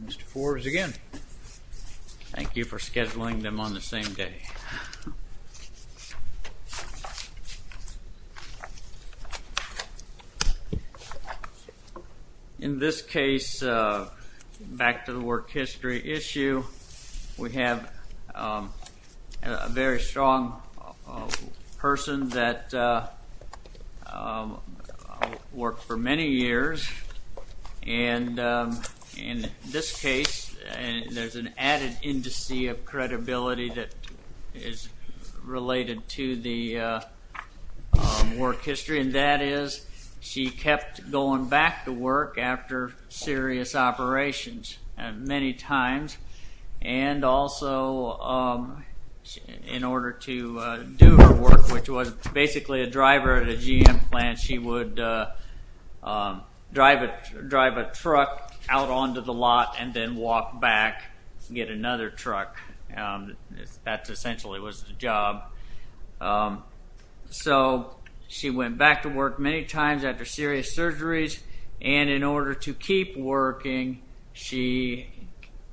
Mr. Forbes again, thank you for scheduling them on the same day. In this case, back to the work history issue, we have a very strong person that worked for the company, and that is she kept going back to work after serious operations many times, and also in order to do her work, which was basically a driver at a GM plant, she would drive a truck out onto the lot and then walk back to get another truck. That essentially was the job. So she went back to work many times after serious surgeries, and in order to keep working, she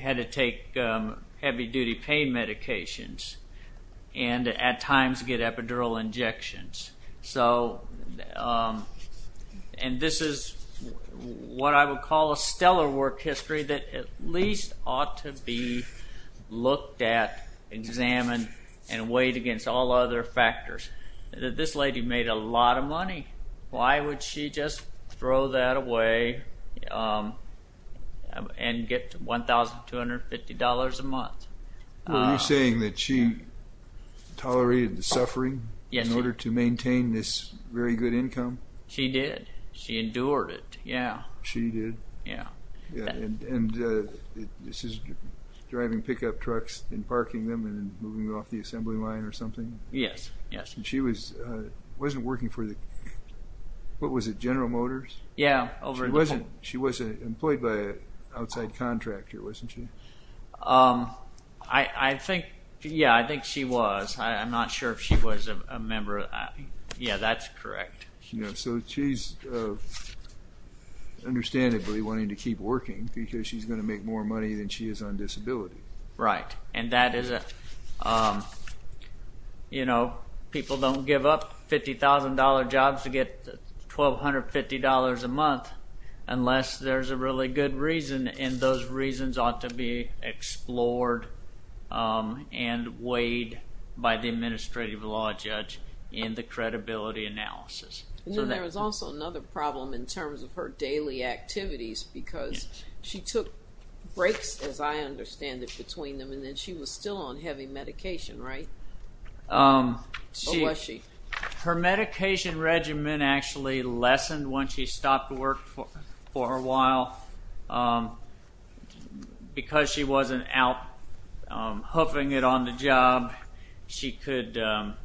had to take heavy-duty pain medications and at times get epidural injections. So, and this is what I would call a stellar work history that at least ought to be looked at, examined, and weighed against all other factors. This lady made a lot of money. Why would she just throw that away and get $1,250 a month? Were you saying that she tolerated the suffering in order to maintain this very good income? She did. She endured it. Yeah. She did? Yeah. And this is driving pickup trucks and parking them and moving off the assembly line or something? Yes, yes. And she wasn't working for the, what was it, General Motors? Yeah. She wasn't employed by an outside contractor, wasn't she? I think, yeah, I think she was. I'm not sure if she was a member of, yeah, that's correct. So she's understandably wanting to keep working because she's going to make more money than she is on disability. Right. And that is a, you know, people don't give up $50,000 jobs to get $1,250 a month. Unless there's a really good reason and those reasons ought to be explored and weighed by the administrative law judge in the credibility analysis. And then there was also another problem in terms of her daily activities because she took breaks, as I understand it, between them and then she was still on heavy medication, right? Or was she? Her medication regimen actually lessened when she stopped work for a while because she wasn't out hoofing it on the job. She could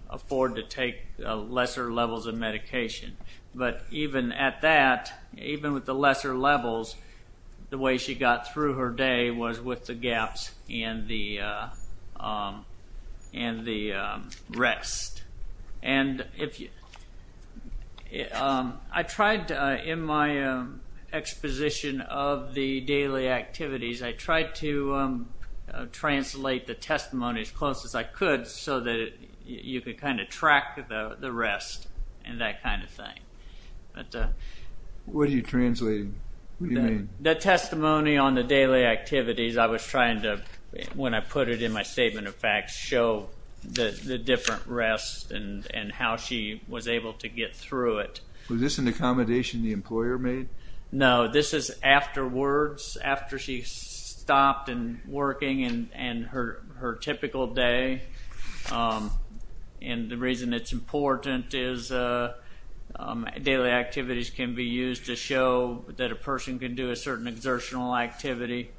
afford to take lesser levels of medication. But even at that, even with the lesser levels, the way she got through her day was with the And I tried in my exposition of the daily activities, I tried to translate the testimony as close as I could so that you could kind of track the rest and that kind of thing. What do you translate? What do you mean? The testimony on the daily activities, I was trying to, when I put it in my statement of how she was able to get through it. Was this an accommodation the employer made? No, this is afterwards, after she stopped working in her typical day. And the reason it's important is daily activities can be used to show that a person can do a certain exertional activity.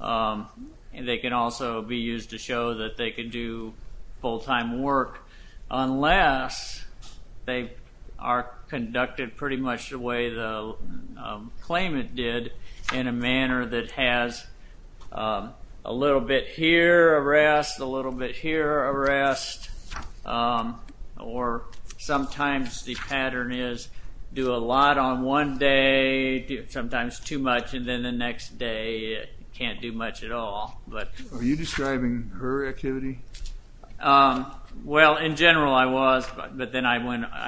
And they can also be used to show that they can do full-time work unless they are conducted pretty much the way the claimant did in a manner that has a little bit here, a rest, a little bit here, a rest. Or sometimes the pattern is do a lot on one day, sometimes too much, and then the next day can't do much at all. Are you describing her activity? Well, in general I was, but then I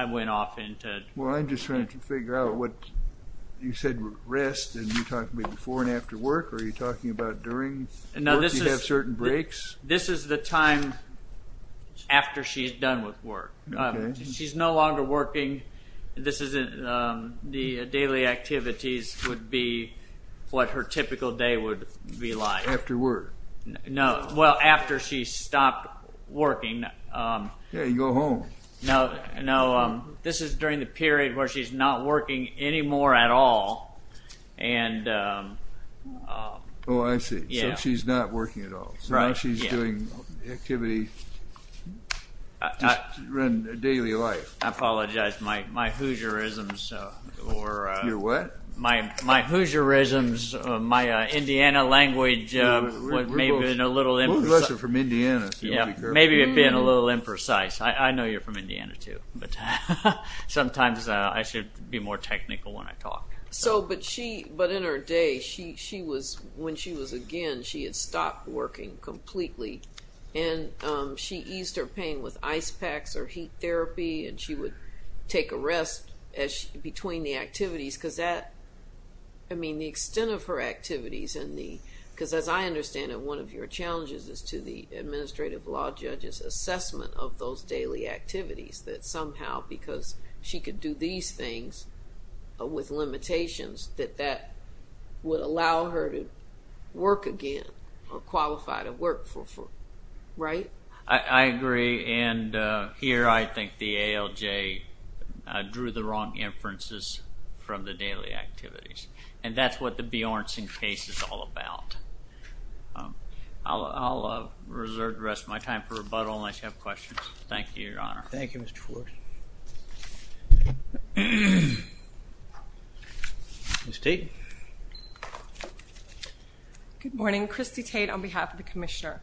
went off into... Well, I'm just trying to figure out what you said rest, and you talked about before and after work, or are you talking about during work you have certain breaks? This is the time after she's done with work. She's no longer working, the daily activities would be what her typical day would be like. After work? No, well, after she stopped working. Yeah, you go home. No, this is during the period where she's not working anymore at all. Oh, I see, so she's not working at all. So now she's doing activity in her daily life. I apologize, my Hoosierisms, my Indiana language was maybe a little imprecise. We're a little lesser from Indiana, so you'll be correct. Maybe it being a little imprecise. I know you're from Indiana too, but sometimes I should be more technical when I talk. But in her day, when she was again, she had stopped working completely, and she eased her pain with ice packs or heat therapy, and she would take a rest between the activities, because that, I mean, the extent of her activities, because as I understand it, one of your challenges is to the administrative law judge's assessment of those daily activities, that somehow because she could do these things with limitations, that that would allow her to work again or qualify to work for, right? I agree, and here I think the ALJ drew the wrong inferences from the daily activities, and that's what the Bjornson case is all about. I'll reserve the rest of my time for rebuttal unless you have questions. Thank you, Your Honor. Thank you, Mr. Fort. Ms. Tate? Good morning. Christy Tate on behalf of the Commissioner.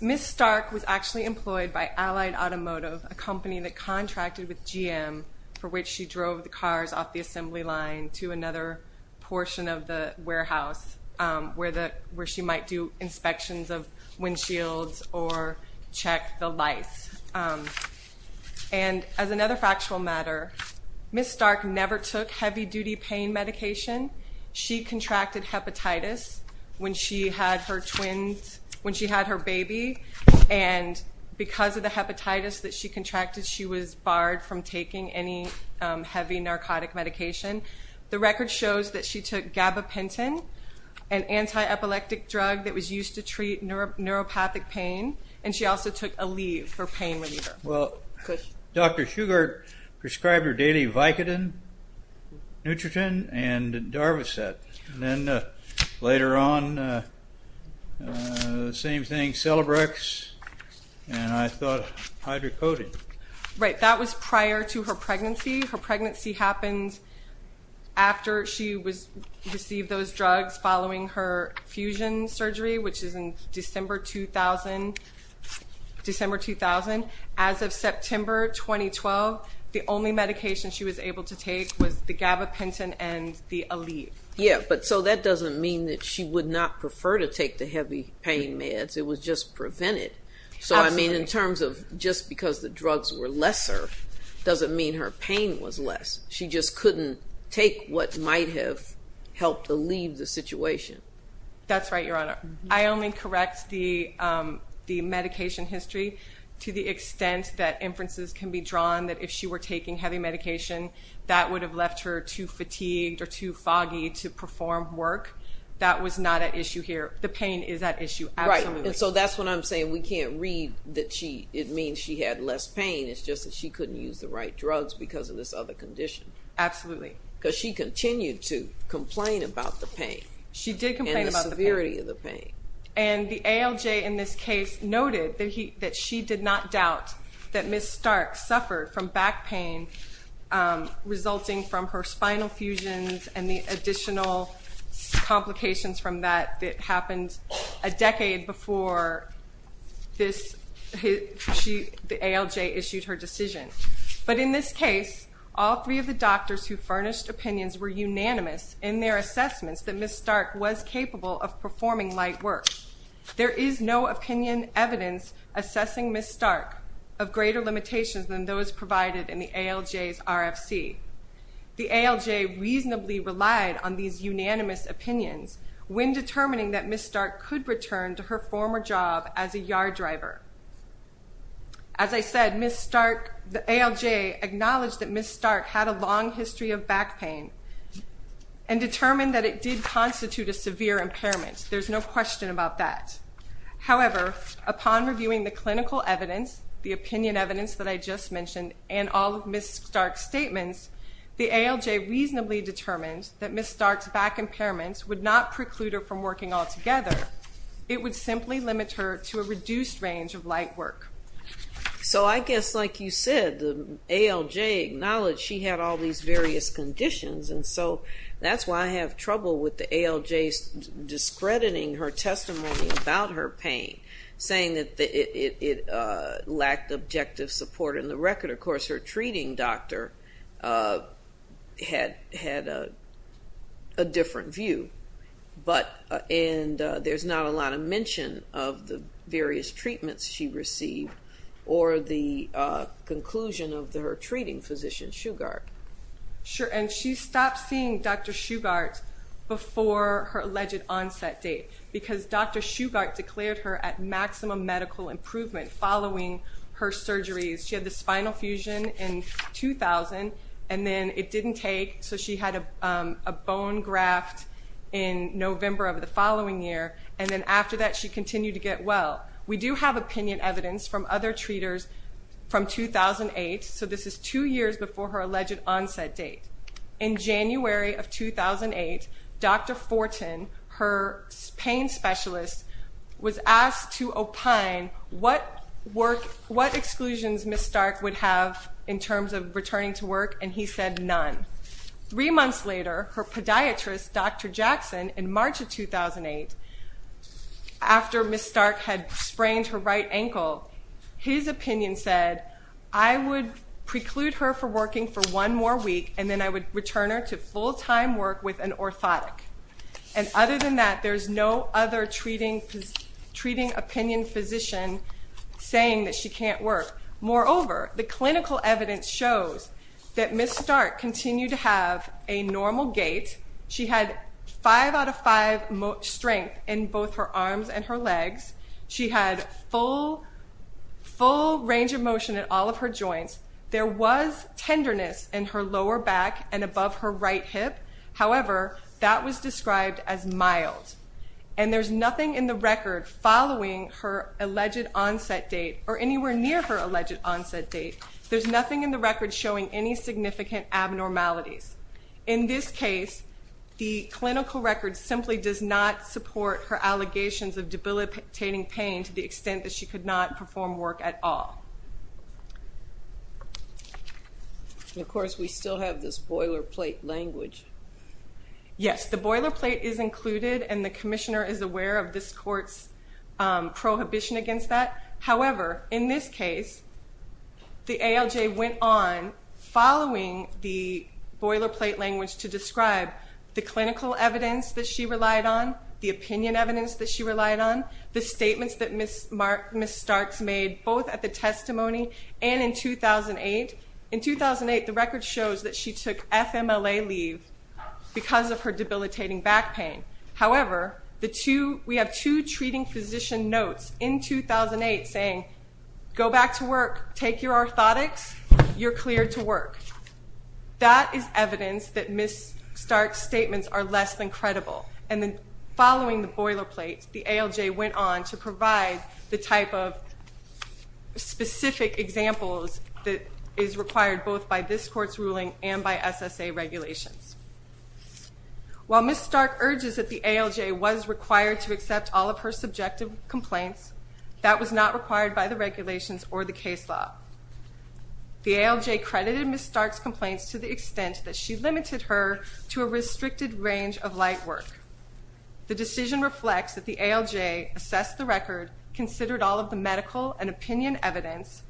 Ms. Stark was actually employed by Allied Automotive, a company that contracted with GM, for which she drove the cars off the assembly line to another portion of the warehouse where she might do inspections of windshields or check the lights. And as another factual matter, Ms. Stark never took heavy-duty pain medication. She contracted hepatitis when she had her twins, when she had her baby, and because of the hepatitis that she contracted, she was barred from taking any heavy narcotic medication. The record shows that she took gabapentin, an anti-epileptic drug that was used to treat neuropathic pain, and she also took Aleve for pain reliever. Well, Dr. Shugart prescribed her daily Vicodin, Nutritin, and Darvocet, and then later on, same thing, Celebrex, and I thought Hydrocodone. Right, that was prior to her pregnancy. Her pregnancy happened after she received those drugs, following her fusion surgery, which is in December 2000. As of September 2012, the only medication she was able to take was the gabapentin and the Aleve. Yeah, but so that doesn't mean that she would not prefer to take the heavy pain meds. It was just prevented. Absolutely. I mean, in terms of just because the drugs were lesser, doesn't mean her pain was less. She just couldn't take what might have helped to leave the situation. That's right, Your Honor. I only correct the medication history to the extent that inferences can be drawn that if she were taking heavy medication, that would have left her too fatigued or too foggy to perform work. The pain is at issue. Absolutely. So that's what I'm saying. We can't read that it means she had less pain. It's just that she couldn't use the right drugs because of this other condition. Absolutely. Because she continued to complain about the pain. She did complain about the pain. And the severity of the pain. And the ALJ in this case noted that she did not doubt that Ms. Stark suffered from back pain resulting from her spinal fusions and the additional complications from that that were the ALJ issued her decision. But in this case, all three of the doctors who furnished opinions were unanimous in their assessments that Ms. Stark was capable of performing light work. There is no opinion evidence assessing Ms. Stark of greater limitations than those provided in the ALJ's RFC. The ALJ reasonably relied on these unanimous opinions when determining that Ms. Stark could return to her former job as a yard driver. As I said, Ms. Stark, the ALJ acknowledged that Ms. Stark had a long history of back pain and determined that it did constitute a severe impairment. There's no question about that. However, upon reviewing the clinical evidence, the opinion evidence that I just mentioned, and all of Ms. Stark's statements, the ALJ reasonably determined that Ms. Stark's back It would simply limit her to a reduced range of light work. So I guess like you said, the ALJ acknowledged she had all these various conditions and so that's why I have trouble with the ALJ's discrediting her testimony about her pain, saying that it lacked objective support in the record. Of course, her treating doctor had a different view. But, and there's not a lot of mention of the various treatments she received or the conclusion of her treating physician, Shugart. Sure, and she stopped seeing Dr. Shugart before her alleged onset date because Dr. Shugart declared her at maximum medical improvement following her surgeries. She had the spinal fusion in 2000 and then it didn't take, so she had a bone graft in November of the following year and then after that she continued to get well. We do have opinion evidence from other treaters from 2008, so this is two years before her alleged onset date. In January of 2008, Dr. Fortin, her pain specialist, was asked to opine what work, what exclusions Ms. Stark would have in terms of returning to work and he said none. Three months later, her podiatrist, Dr. Jackson, in March of 2008, after Ms. Stark had sprained her right ankle, his opinion said, I would preclude her from working for one more week and then I would return her to full-time work with an orthotic. And other than that, there's no other treating opinion physician saying that she can't work. Moreover, the clinical evidence shows that Ms. Stark continued to have a normal gait. She had five out of five strength in both her arms and her legs. She had full range of motion in all of her joints. There was tenderness in her lower back and above her right hip, however, that was described as mild. And there's nothing in the record following her alleged onset date or anywhere near her alleged onset date, there's nothing in the record showing any significant abnormalities. In this case, the clinical record simply does not support her allegations of debilitating pain to the extent that she could not perform work at all. And of course, we still have this boilerplate language. Yes, the boilerplate is included and the commissioner is aware of this court's prohibition against that. However, in this case, the ALJ went on following the boilerplate language to describe the clinical evidence that she relied on, the opinion evidence that she relied on, the statements that Ms. Stark's made both at the testimony and in 2008. In 2008, the record shows that she took FMLA leave because of her debilitating back pain. However, we have two treating physician notes in 2008 saying, go back to work, take your orthotics, you're cleared to work. That is evidence that Ms. Stark's statements are less than credible. And then following the boilerplate, the ALJ went on to provide the type of specific examples that is required both by this court's ruling and by SSA regulations. While Ms. Stark urges that the ALJ was required to accept all of her subjective complaints, that was not required by the regulations or the case law. The ALJ credited Ms. Stark's complaints to the extent that she limited her to a restricted range of light work. The decision reflects that the ALJ assessed the record, considered all of the medical and opinion evidence,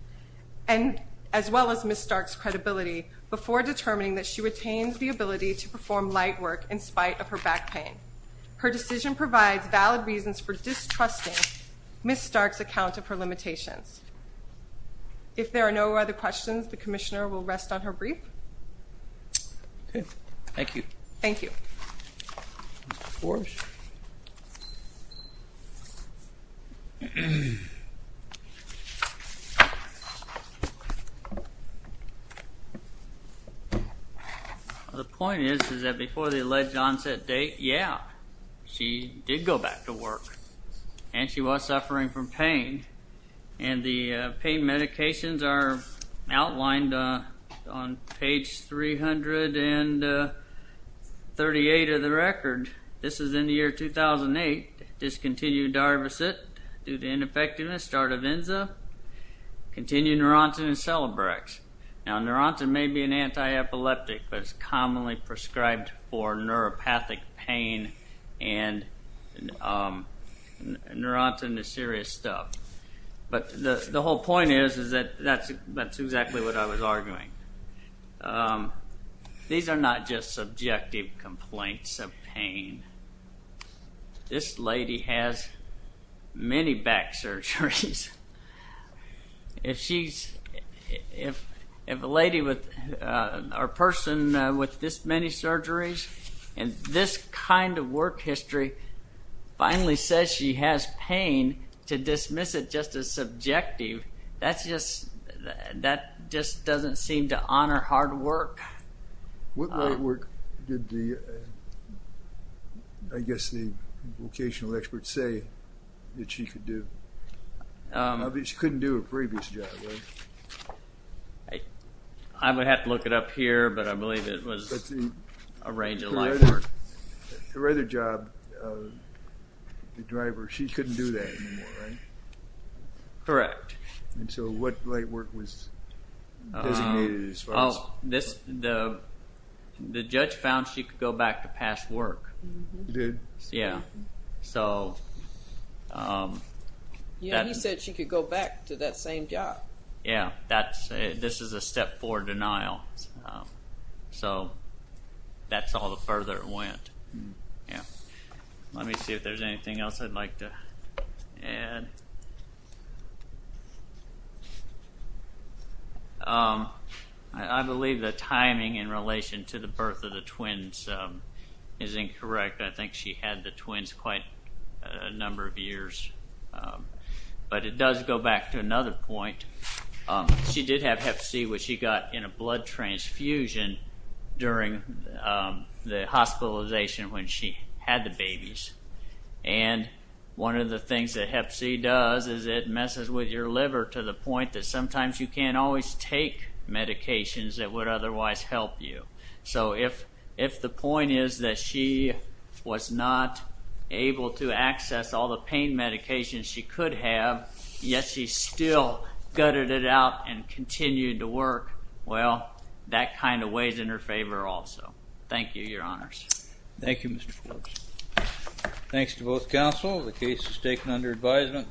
as well as Ms. Stark's credibility, before determining that she retains the ability to perform light work in spite of her back pain. Her decision provides valid reasons for distrusting Ms. Stark's account of her limitations. If there are no other questions, the commissioner will rest on her brief. Thank you. Thank you. The point is, is that before the alleged onset date, yeah, she did go back to work. And she was suffering from pain. And the pain medications are outlined on page 338 of the record. This is in the year 2008. Discontinued Darvocet due to ineffectiveness. Stardivenza. Continued Neurontin and Celebrex. Now Neurontin may be an anti-epileptic, but it's commonly prescribed for neuropathic pain and Neurontin is serious stuff. But the whole point is, is that that's exactly what I was arguing. These are not just subjective complaints of pain. This lady has many back surgeries. If a lady or person with this many surgeries and this kind of work history finally says she has pain to dismiss it just as subjective, that just doesn't seem to honor hard work. Um. Um. I would have to look it up here, but I believe it was a range of life work. Correct. And so what life work was designated as far as? Oh, the judge found she could go back to past work. He did? Yeah. So. Yeah, he said she could go back to that same job. Yeah. This is a step four denial. So that's all the further it went. Yeah. Let me see if there's anything else I'd like to add. I believe the timing in relation to the birth of the twins is incorrect. I think she had the twins quite a number of years. But it does go back to another point. She did have hep C, which she got in a blood transfusion during the hospitalization when she had the babies. And one of the things that hep C does is it messes with your liver to the point that sometimes you can't always take medications that would otherwise help you. So if the point is that she was not able to access all the pain medications she could have, yet she still gutted it out and continued to work, well, that kind of weighs in her favor also. Thank you, Your Honors. Thank you, Mr. Forbes. Thanks to both counsel. The case is taken under advisement.